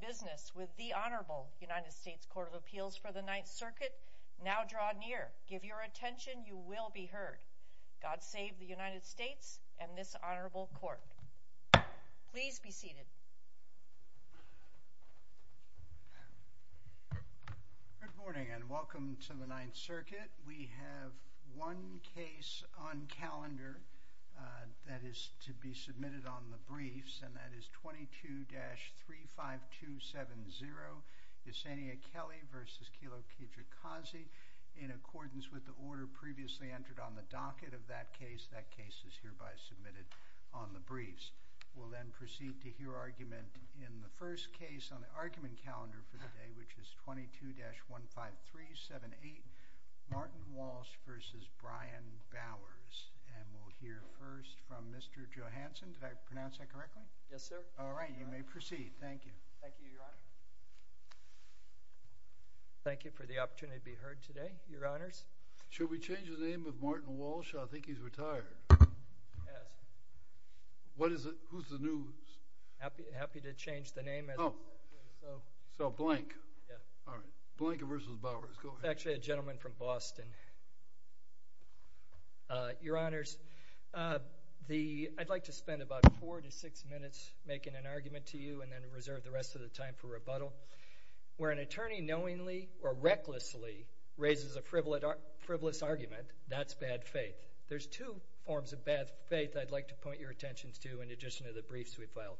business with the Honorable United States Court of Appeals for the Ninth Circuit. Now draw near, give your attention, you will be heard. God save the United States and this honorable court. Please be seated. Good morning and welcome to the Ninth Circuit. We have one case on calendar that is to be referred to as 22-15270, Yesenia Kelly v. Kilo Kejikazi. In accordance with the order previously entered on the docket of that case, that case is hereby submitted on the briefs. We'll then proceed to hear argument in the first case on the argument calendar for the day, which is 22-15378, Martin Walsh v. Brian Bowers. And we'll hear first from Mr. Johansson. Did I pronounce that correctly? Thank you, Your Honor. Thank you for the opportunity to be heard today, Your Honors. Should we change the name of Martin Walsh? I think he's retired. Yes. What is it? Who's the news? Happy to change the name. Oh, so blank. Yeah. All right. Blank v. Bowers. Go ahead. It's actually a gentleman from Boston. Your Honors, I'd like to spend about four to six minutes making an argument to you and then reserve the rest of the time for rebuttal. Where an attorney knowingly or recklessly raises a frivolous argument, that's bad faith. There's two forms of bad faith I'd like to point your attentions to in addition to the briefs we filed.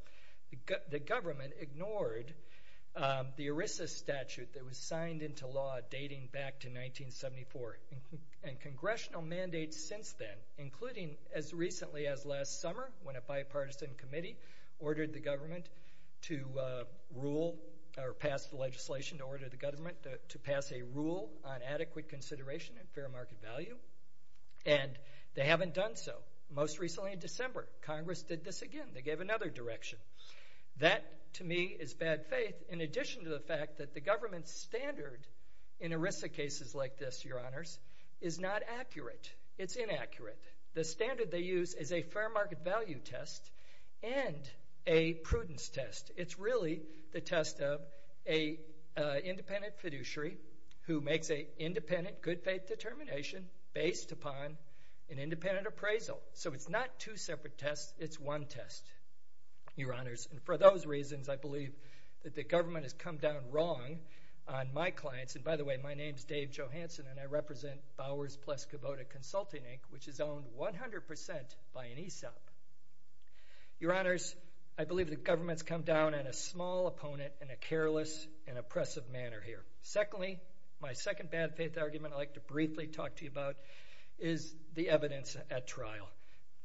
The government ignored the ERISA statute that was signed into law dating back to 1974, and congressional mandates since then, including as recently as last summer when a bipartisan committee ordered the government to rule or pass the legislation to order the government to pass a rule on adequate consideration and fair market value, and they haven't done so. Most recently in December, Congress did this again. They gave another direction. That, to me, is bad faith in addition to the fact that the government's standard in ERISA cases like this, Your Honors, is not accurate. It's inaccurate. The standard they use is a fair market value test and a prudence test. It's really the test of a independent fiduciary who makes a independent good faith determination based upon an independent appraisal. So it's not two separate tests. It's one test, Your Honors. And for those reasons, I believe that the government has come down wrong on my clients. And by the way, my name's Dave Johanson, and I represent Bowers Plus Kubota Consulting Inc., which is owned 100% by an ESOP. Your Honors, I believe the government's come down on a small opponent in a careless and oppressive manner here. Secondly, my second bad faith argument I'd like to briefly talk to you about is the evidence at trial.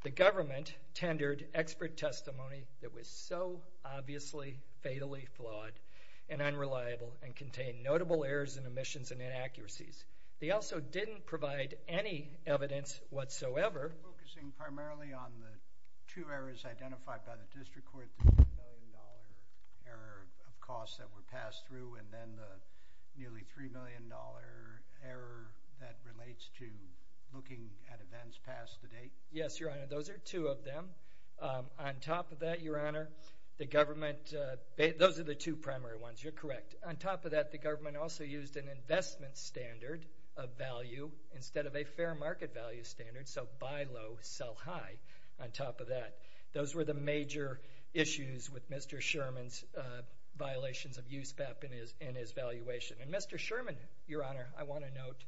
The government tendered expert testimony that was so inaccurate. They also didn't provide any evidence whatsoever focusing primarily on the two errors identified by the district court, the $1 million error of costs that were passed through, and then the nearly $3 million error that relates to looking at events past the date. Yes, Your Honor. Those are two of them. On top of that, Your Honor, the government, those are the two primary ones. You're correct. On top of that, the government also used an investment standard of value instead of a fair market value standard, so buy low, sell high. On top of that, those were the major issues with Mr. Sherman's violations of USPAP in his valuation. And Mr. Sherman, Your Honor, I want to note,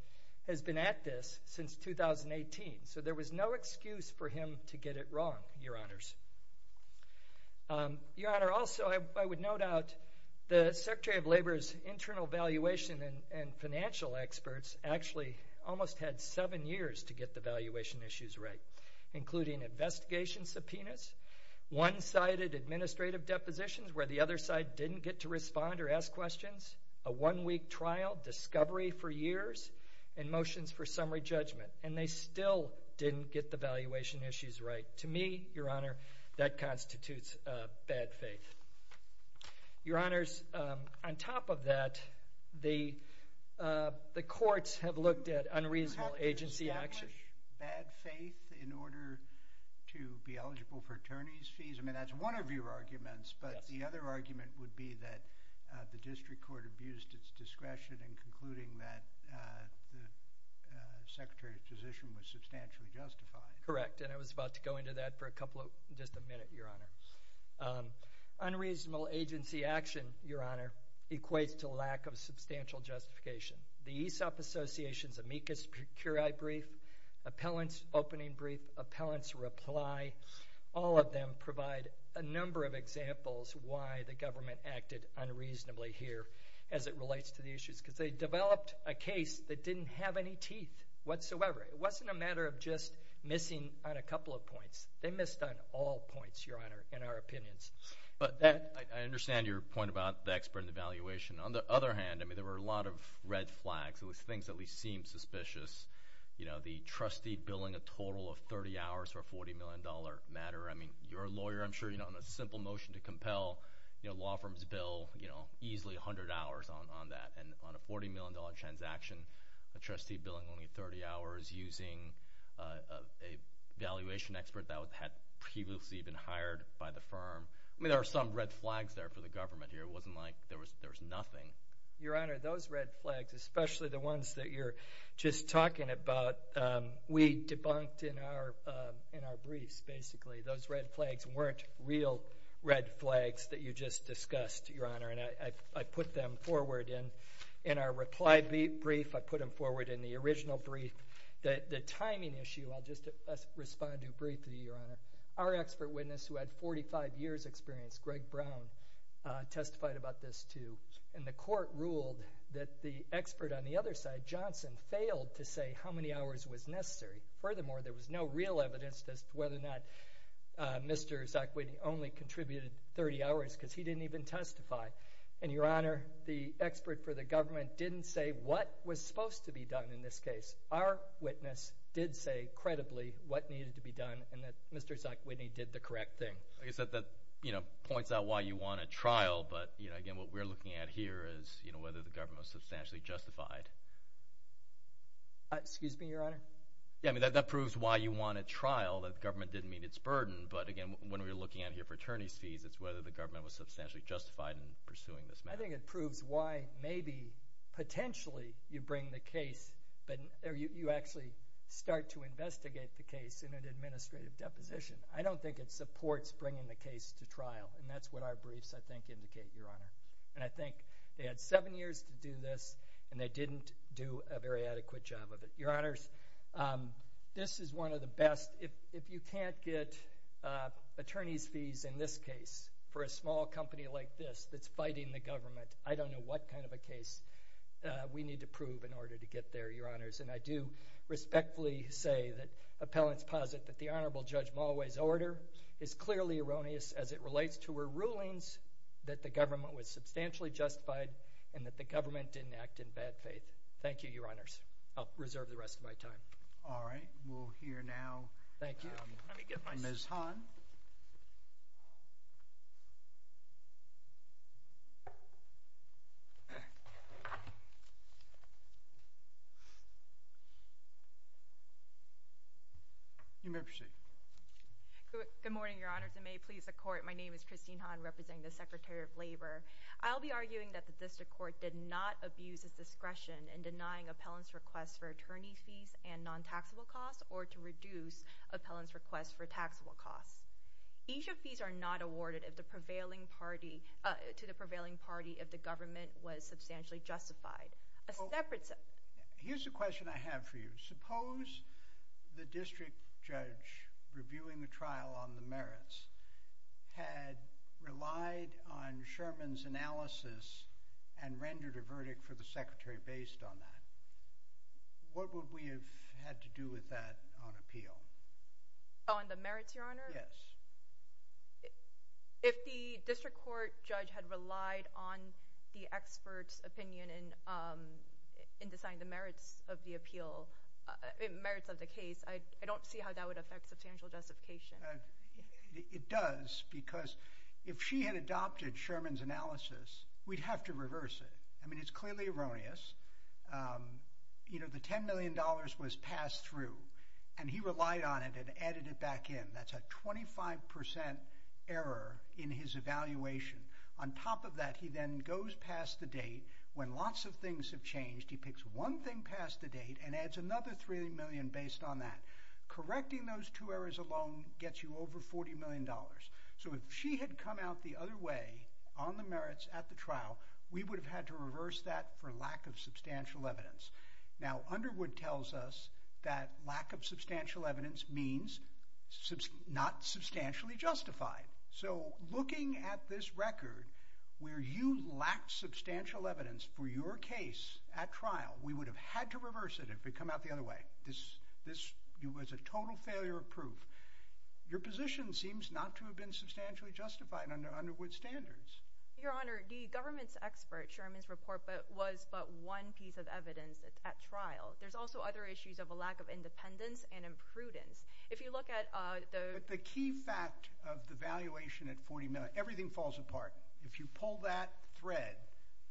has been at this since 2018. So there was no excuse for him to get it wrong, Your Honors. Your Honor, also, I would note out the Secretary of Labor's internal valuation and financial experts actually almost had seven years to get the valuation issues right, including investigation subpoenas, one-sided administrative depositions where the other side didn't get to respond or ask questions, a one-week trial, discovery for years, and motions for summary judgment, and they still didn't get the valuation issues right. To me, Your Honor, that constitutes bad faith. Your Honors, on top of that, the courts have looked at unreasonable agency action. Do you have to establish bad faith in order to be eligible for attorney's fees? I mean, that's one of your arguments, but the other argument would be that the district court abused its discretion in concluding that the Secretary's position was substantially justified. Correct, and I was about to go into that for a couple of, just a minute, Your Honor. Unreasonable agency action, Your Honor, equates to lack of substantial justification. The ESOP Association's amicus curiae brief, appellant's opening brief, appellant's reply, all of them provide a number of examples why the government acted unreasonably here, as it relates to the issues, because they developed a case that didn't have any teeth whatsoever. It wasn't a matter of just missing on a couple of points. They missed on all points, Your Honor, in our opinions. But I understand your point about the expert and the valuation. On the other hand, I mean, there were a lot of red flags. It was things that at least seemed suspicious. You know, the trustee billing a total of 30 hours for a $40 million matter. I mean, your lawyer, I'm sure, you know, on a simple motion to compel, you know, law firms bill, you know, easily 100 hours on that. And on a $40 million transaction, a trustee billing only 30 hours using a valuation expert that had previously been hired by the firm. I mean, there were some red flags there for the government here. It wasn't like there was nothing. Your Honor, those red flags, especially the ones that you're just talking about, we debunked in our briefs, basically. Those red flags weren't real red flags that you just discussed, Your Honor. And I put them forward in our reply brief. I put them forward in the original brief. The timing issue, I'll just respond to briefly, Your Honor. Our expert witness who had 45 years experience, Greg Brown, testified about this too. And the court ruled that the expert on the other side, Johnson, failed to say how many hours was necessary. Furthermore, there was no real evidence as to whether or not Mr. Zackwidney only contributed 30 hours, because he didn't even testify. And, Your Honor, the expert for the government didn't say what was supposed to be done in this case. Our witness did say, credibly, what needed to be done, and that Mr. Zackwidney did the correct thing. Like I said, that, you know, points out why you want a trial. But, you know, again, what we're looking at here is, you know, whether the government was substantially justified. Excuse me, Your Honor? Yeah, I mean, that proves why you want a trial, that the government didn't meet its burden. But, again, when we're looking at here for attorney's fees, it's whether the government was substantially justified in pursuing this matter. I think it proves why, maybe, potentially, you bring the case, but you actually start to investigate the case in an administrative deposition. I don't think it supports bringing the case to trial. And that's what our briefs, I think, indicate, Your Honor. And I think they had seven years to do this, and they didn't do a very adequate job of it. Your Honors, this is one of the best. If you can't get attorney's fees, in this case, for a small company like this that's fighting the government, I don't know what kind of a case we need to prove in order to get there, Your Honors. And I do respectfully say that appellants posit that the Honorable Judge Mulway's order is clearly erroneous as it relates to her rulings, that the government was substantially justified, and that the government didn't act in bad faith. Thank you, Your Honors. I'll reserve the rest of my time. All right. We'll hear now Ms. Hahn. You may proceed. Good morning, Your Honors, and may it please the Court. My name is Christine Hahn, representing the Secretary of Labor. I'll be arguing that the District Court did not abuse its discretion in denying appellants' requests for attorney's fees and non-taxable costs or to reduce appellants' requests for taxable costs. Each of these are not awarded to the prevailing party if the government was substantially justified. Here's a question I have for you. Suppose the District Judge reviewing the trial on the merits had relied on Sherman's analysis and rendered a verdict for the Secretary based on that. What would we have had to do with that on appeal? On the merits, Your Honor? Yes. If the District Court judge had relied on the expert's opinion in deciding the merits of the case, I don't see how that would affect substantial justification. It does, because if she had adopted Sherman's analysis, we'd have to reverse it. I mean, it's clearly erroneous. You know, the $10 million was passed through, and he relied on it and added it back in. That's a 25 percent error in his evaluation. On top of that, he then goes past the date when lots of things have changed. He picks one thing past the date and adds another million based on that. Correcting those two errors alone gets you over $40 million. So, if she had come out the other way on the merits at the trial, we would have had to reverse that for lack of substantial evidence. Now, Underwood tells us that lack of substantial evidence means not substantially justified. So, looking at this record, where you lack substantial evidence for your case at trial, we would have had to reverse it if it had come out the other way. This was a total failure of proof. Your position seems not to have been substantially justified under Underwood's standards. Your Honor, the government's expert, Sherman's report, was but one piece of evidence at trial. There's also other issues of a lack of independence and imprudence. If you look at the... But the key fact of the valuation at $40 million, everything falls apart. If you pull that thread,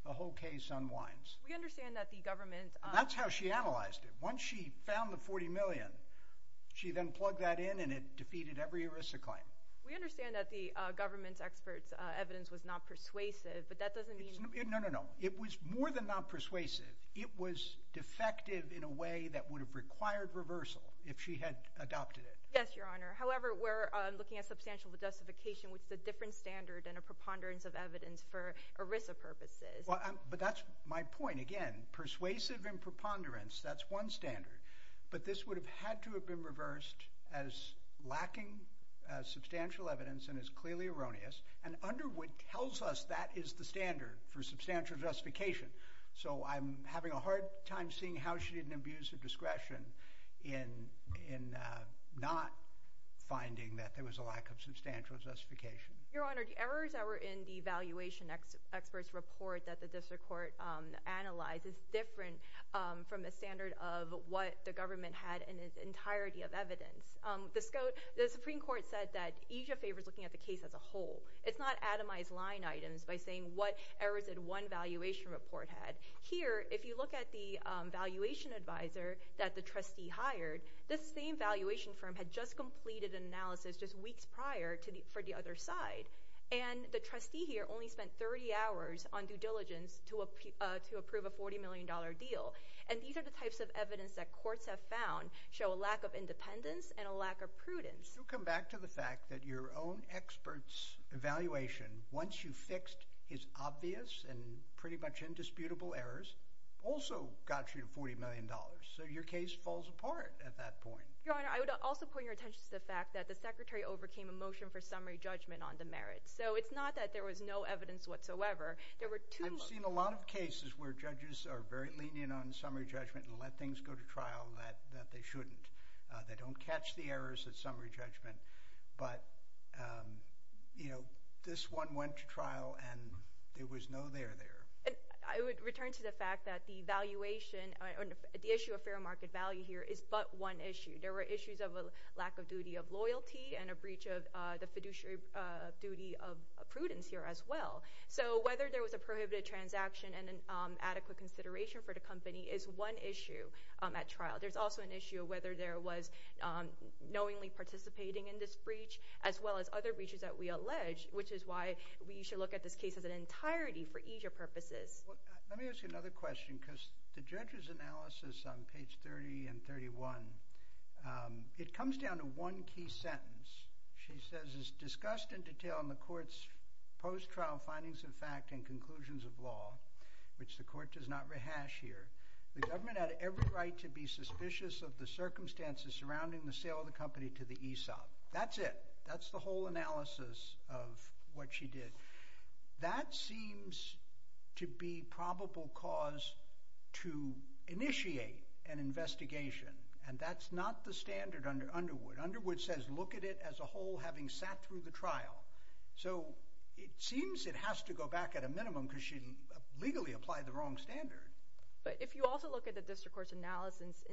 the whole case unwinds. We understand that that's how she analyzed it. Once she found the $40 million, she then plugged that in and it defeated every ERISA claim. We understand that the government's expert's evidence was not persuasive, but that doesn't mean... No, no, no. It was more than not persuasive. It was defective in a way that would have required reversal if she had adopted it. Yes, Your Honor. However, we're looking at substantial justification, which is a different standard and a preponderance of evidence for ERISA purposes. But that's my point. Again, persuasive and preponderance, that's one standard. But this would have had to have been reversed as lacking substantial evidence and as clearly erroneous. And Underwood tells us that is the standard for substantial justification. So I'm having a hard time seeing how she didn't abuse her discretion in not finding that there was a valuation expert's report that the district court analyzed. It's different from the standard of what the government had in its entirety of evidence. The Supreme Court said that EJIA favors looking at the case as a whole. It's not atomized line items by saying what errors did one valuation report had. Here, if you look at the valuation advisor that the trustee hired, this same valuation firm had just completed an analysis just weeks prior for the other side. And the trustee here only spent 30 hours on due diligence to approve a $40 million deal. And these are the types of evidence that courts have found show a lack of independence and a lack of prudence. You come back to the fact that your own expert's evaluation, once you fixed his obvious and pretty much indisputable errors, also got you $40 million. So your case falls apart at that point. Your Honor, I would also point your attention to the fact that the Secretary overcame a motion for merits. So it's not that there was no evidence whatsoever. There were two— I've seen a lot of cases where judges are very lenient on summary judgment and let things go to trial that they shouldn't. They don't catch the errors at summary judgment. But, you know, this one went to trial and there was no there there. I would return to the fact that the valuation—the issue of fair market value here is but one issue. There were issues of a lack of duty of loyalty and a breach of the fiduciary duty of prudence here as well. So whether there was a prohibited transaction and an adequate consideration for the company is one issue at trial. There's also an issue of whether there was knowingly participating in this breach as well as other breaches that we allege, which is why we should look at this case as an entirety for easier purposes. Let me ask you another question because the judge's analysis on page 30 and 31, it comes down to one key sentence. She says, it's discussed in detail in the court's post-trial findings of fact and conclusions of law, which the court does not rehash here. The government had every right to be suspicious of the circumstances surrounding the sale of the company to the ESOP. That's it. That's the initiate an investigation, and that's not the standard under Underwood. Underwood says, look at it as a whole having sat through the trial. So it seems it has to go back at a minimum because she legally applied the wrong standard. But if you also look at the district court's analysis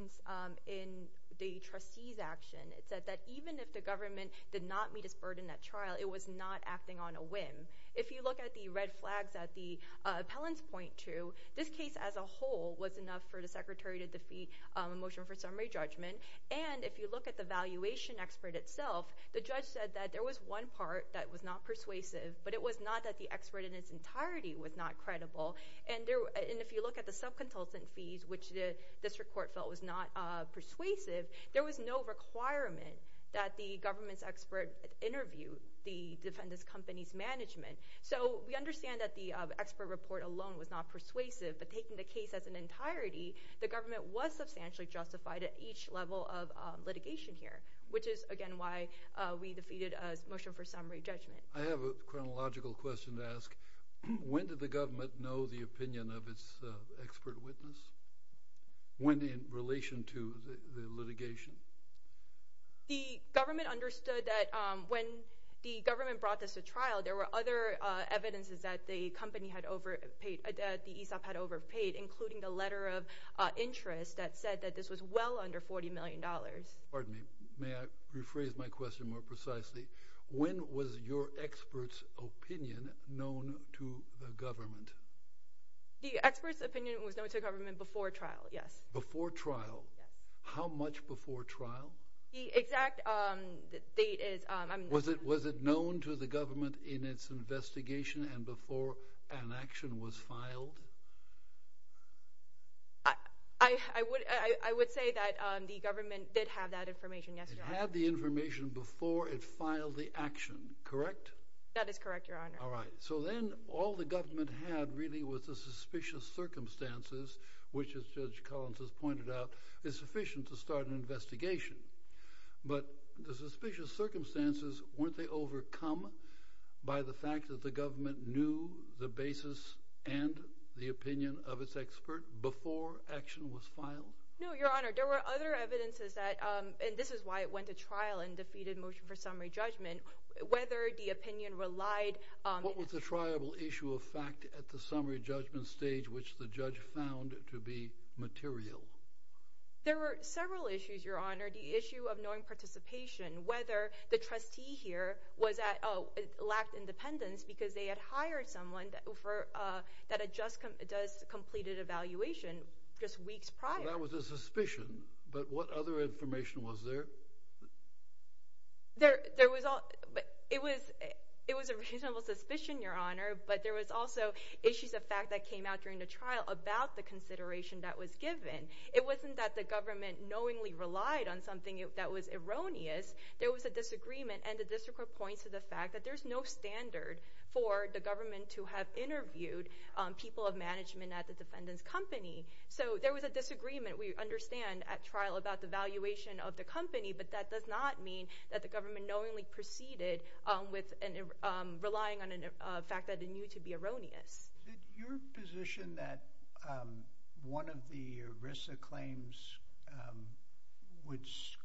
in the trustees' action, it said that even if the government did not meet its burden at trial, it was not acting on a whim. If you look at the red flags that the appellants point to, this case as a whole was enough for the secretary to defeat a motion for summary judgment. And if you look at the valuation expert itself, the judge said that there was one part that was not persuasive, but it was not that the expert in its entirety was not credible. And if you look at the subconsultant fees, which the district court felt was not persuasive, there was no requirement that the government's expert interview the defendant's company's management. So we taking the case as an entirety, the government was substantially justified at each level of litigation here, which is again why we defeated a motion for summary judgment. I have a chronological question to ask. When did the government know the opinion of its expert witness? When in relation to the litigation? The government understood that when the government brought this to trial, there were other evidences that the company had overpaid, that the ESOP had overpaid, including the letter of interest that said that this was well under $40 million. Pardon me, may I rephrase my question more precisely? When was your expert's opinion known to the government? The expert's opinion was known to the government before trial, yes. Before trial? How much before trial? The exact date is... Was it known to the government in its investigation and before an action was filed? I would say that the government did have that information, yes. It had the information before it filed the action, correct? That is correct, Your Honor. All right. So then all the government had really was the suspicious circumstances, which as Judge Collins has pointed out, is sufficient to start an investigation. But the suspicious circumstances, weren't they overcome by the fact that the government knew the basis and the opinion of its expert before action was filed? No, Your Honor. There were other evidences that, and this is why it went to trial and defeated motion for summary judgment, whether the opinion relied... What was the triable issue of fact at the summary judgment stage, which the judge found to be material? There were several issues, Your Honor. The issue of knowing participation, whether the trustee here lacked independence because they had hired someone that had just completed evaluation just weeks prior. That was a suspicion, but what other information was there? It was a reasonable suspicion, Your Honor, but there was also issues of fact that came out during the trial about the consideration that was given. It wasn't that the government knowingly relied on something that was erroneous. There was a disagreement, and the district court points to the fact that there's no standard for the government to have interviewed people of management at the defendant's company. So there was a disagreement, we understand, at trial about the valuation of the company, but that does not mean that the government knowingly proceeded relying on a fact that it knew to be erroneous. Is it your position that one of the ERISA claims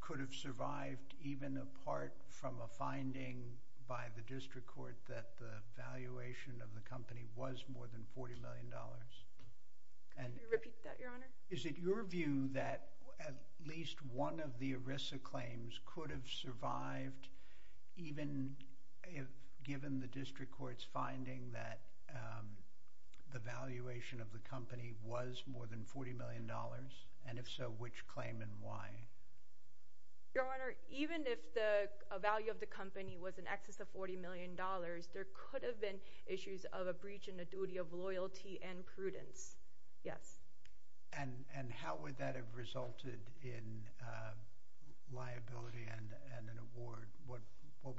could have survived even apart from a finding by the district court that the valuation of the company was more than $40 million? Could you repeat that, Your Honor? Is it your view that at least one of the ERISA claims could have survived even given the district court's finding that the valuation of the company was more than $40 million, and if so, which claim and why? Your Honor, even if the value of the company was in excess of $40 million, there could have been issues of a breach in the duty of loyalty and prudence, yes. And how would that have resulted in liability and an award? What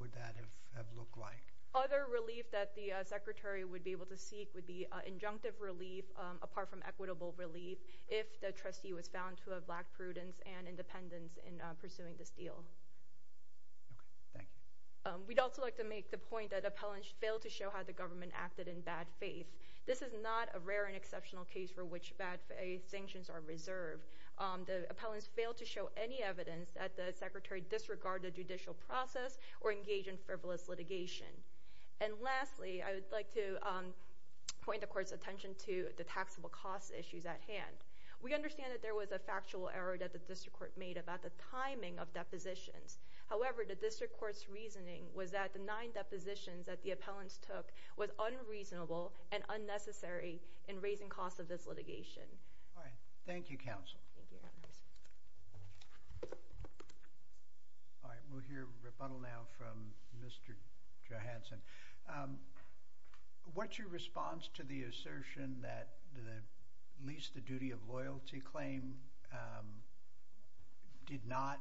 would that have looked like? Other relief that the Secretary would be able to seek would be injunctive relief, apart from equitable relief, if the trustee was found to have lacked prudence and independence in pursuing this deal. Okay, thank you. We'd also like to make the point that Appellant failed to show how the government acted in bad faith sanctions are reserved. The appellants failed to show any evidence that the Secretary disregarded judicial process or engaged in frivolous litigation. And lastly, I would like to point the court's attention to the taxable cost issues at hand. We understand that there was a factual error that the district court made about the timing of depositions. However, the district court's reasoning was that the nine depositions that the appellants took was unreasonable and unnecessary in raising costs of this litigation. All right. Thank you, counsel. All right. We'll hear rebuttal now from Mr. Johanson. What's your response to the assertion that at least the duty of loyalty claim did not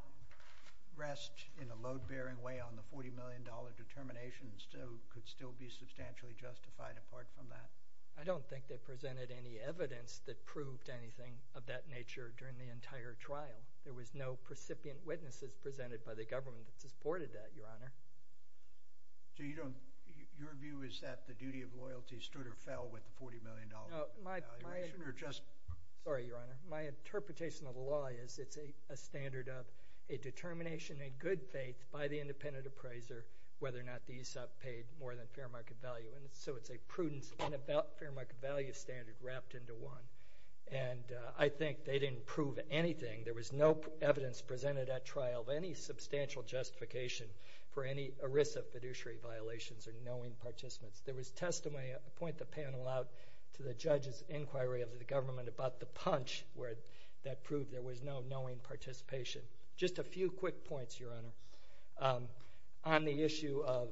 rest in a load-bearing way on the $40 million determination could still be substantially justified apart from that? I don't think they presented any evidence that proved anything of that nature during the entire trial. There was no precipient witnesses presented by the government that supported that, Your Honor. Your view is that the duty of loyalty stood or fell with the $40 million valuation or just— Sorry, Your Honor. My interpretation of the law is it's a standard of a determination in good faith by the independent appraiser whether or not the ESOP paid more than fair market value. And so it's a prudence and about fair market value standard wrapped into one. And I think they didn't prove anything. There was no evidence presented at trial of any substantial justification for any ERISA fiduciary violations or knowing participants. There was testimony—I point the panel out to the judge's inquiry of the government about the punch where that proved there was no knowing participation. Just a few quick points, Your Honor. On the issue of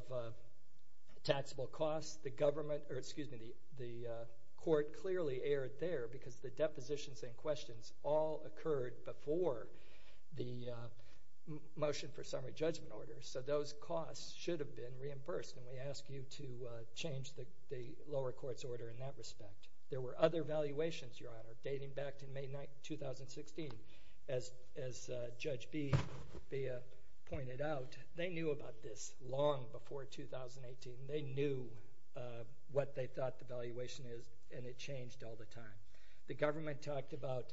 taxable costs, the government—or excuse me, the court clearly erred there because the depositions and questions all occurred before the motion for summary judgment order. So those costs should have been reimbursed. And we ask you to change the lower court's order in that respect. There were other valuations, Your Honor, dating back to May 9, 2016. As Judge Bea pointed out, they knew about this long before 2018. They knew what they thought the valuation is, and it changed all the time. The government talked about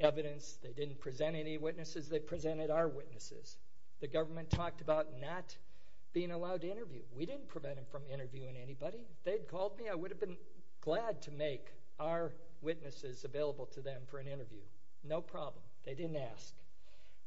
evidence. They didn't present any witnesses. They presented our witnesses. The government talked about not being allowed to interview. We didn't prevent them from interviewing anybody. They'd called me. I would have been glad to make our witnesses available to them for an interview. No problem. They didn't ask.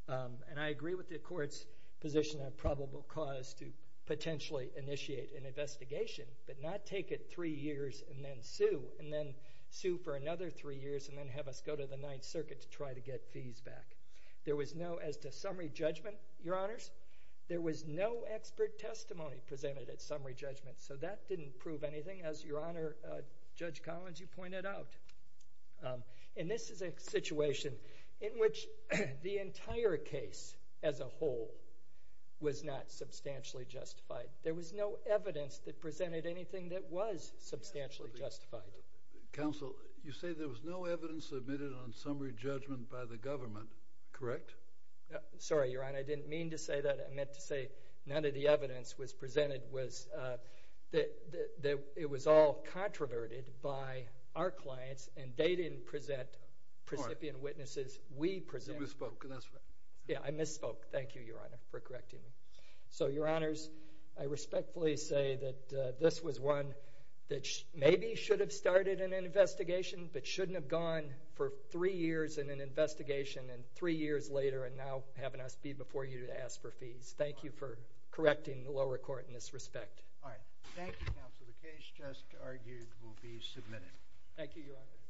And I agree with the court's position on probable cause to potentially initiate an investigation, but not take it three years and then sue, and then sue for another three years and then have us go to the Ninth Circuit to try to get fees back. There was no—as to summary judgment, Your Honors, there was no expert testimony presented at summary judgment. So that didn't prove anything, as Your Honor, Judge Collins, you pointed out. Um, and this is a situation in which the entire case as a whole was not substantially justified. There was no evidence that presented anything that was substantially justified. Counsel, you say there was no evidence submitted on summary judgment by the government, correct? Sorry, Your Honor, I didn't mean to say that. I meant to say none of the evidence was presented was, uh, that it was all controverted by our clients, and they didn't present recipient witnesses. We presented— You misspoke, and that's fine. Yeah, I misspoke. Thank you, Your Honor, for correcting me. So, Your Honors, I respectfully say that, uh, this was one that maybe should have started an investigation, but shouldn't have gone for three years in an investigation and three years later and now having us be before you to ask for fees. Thank you for correcting the lower court in this respect. All right. Thank you, Counsel. The case just argued will be submitted. Thank you, Your Honor.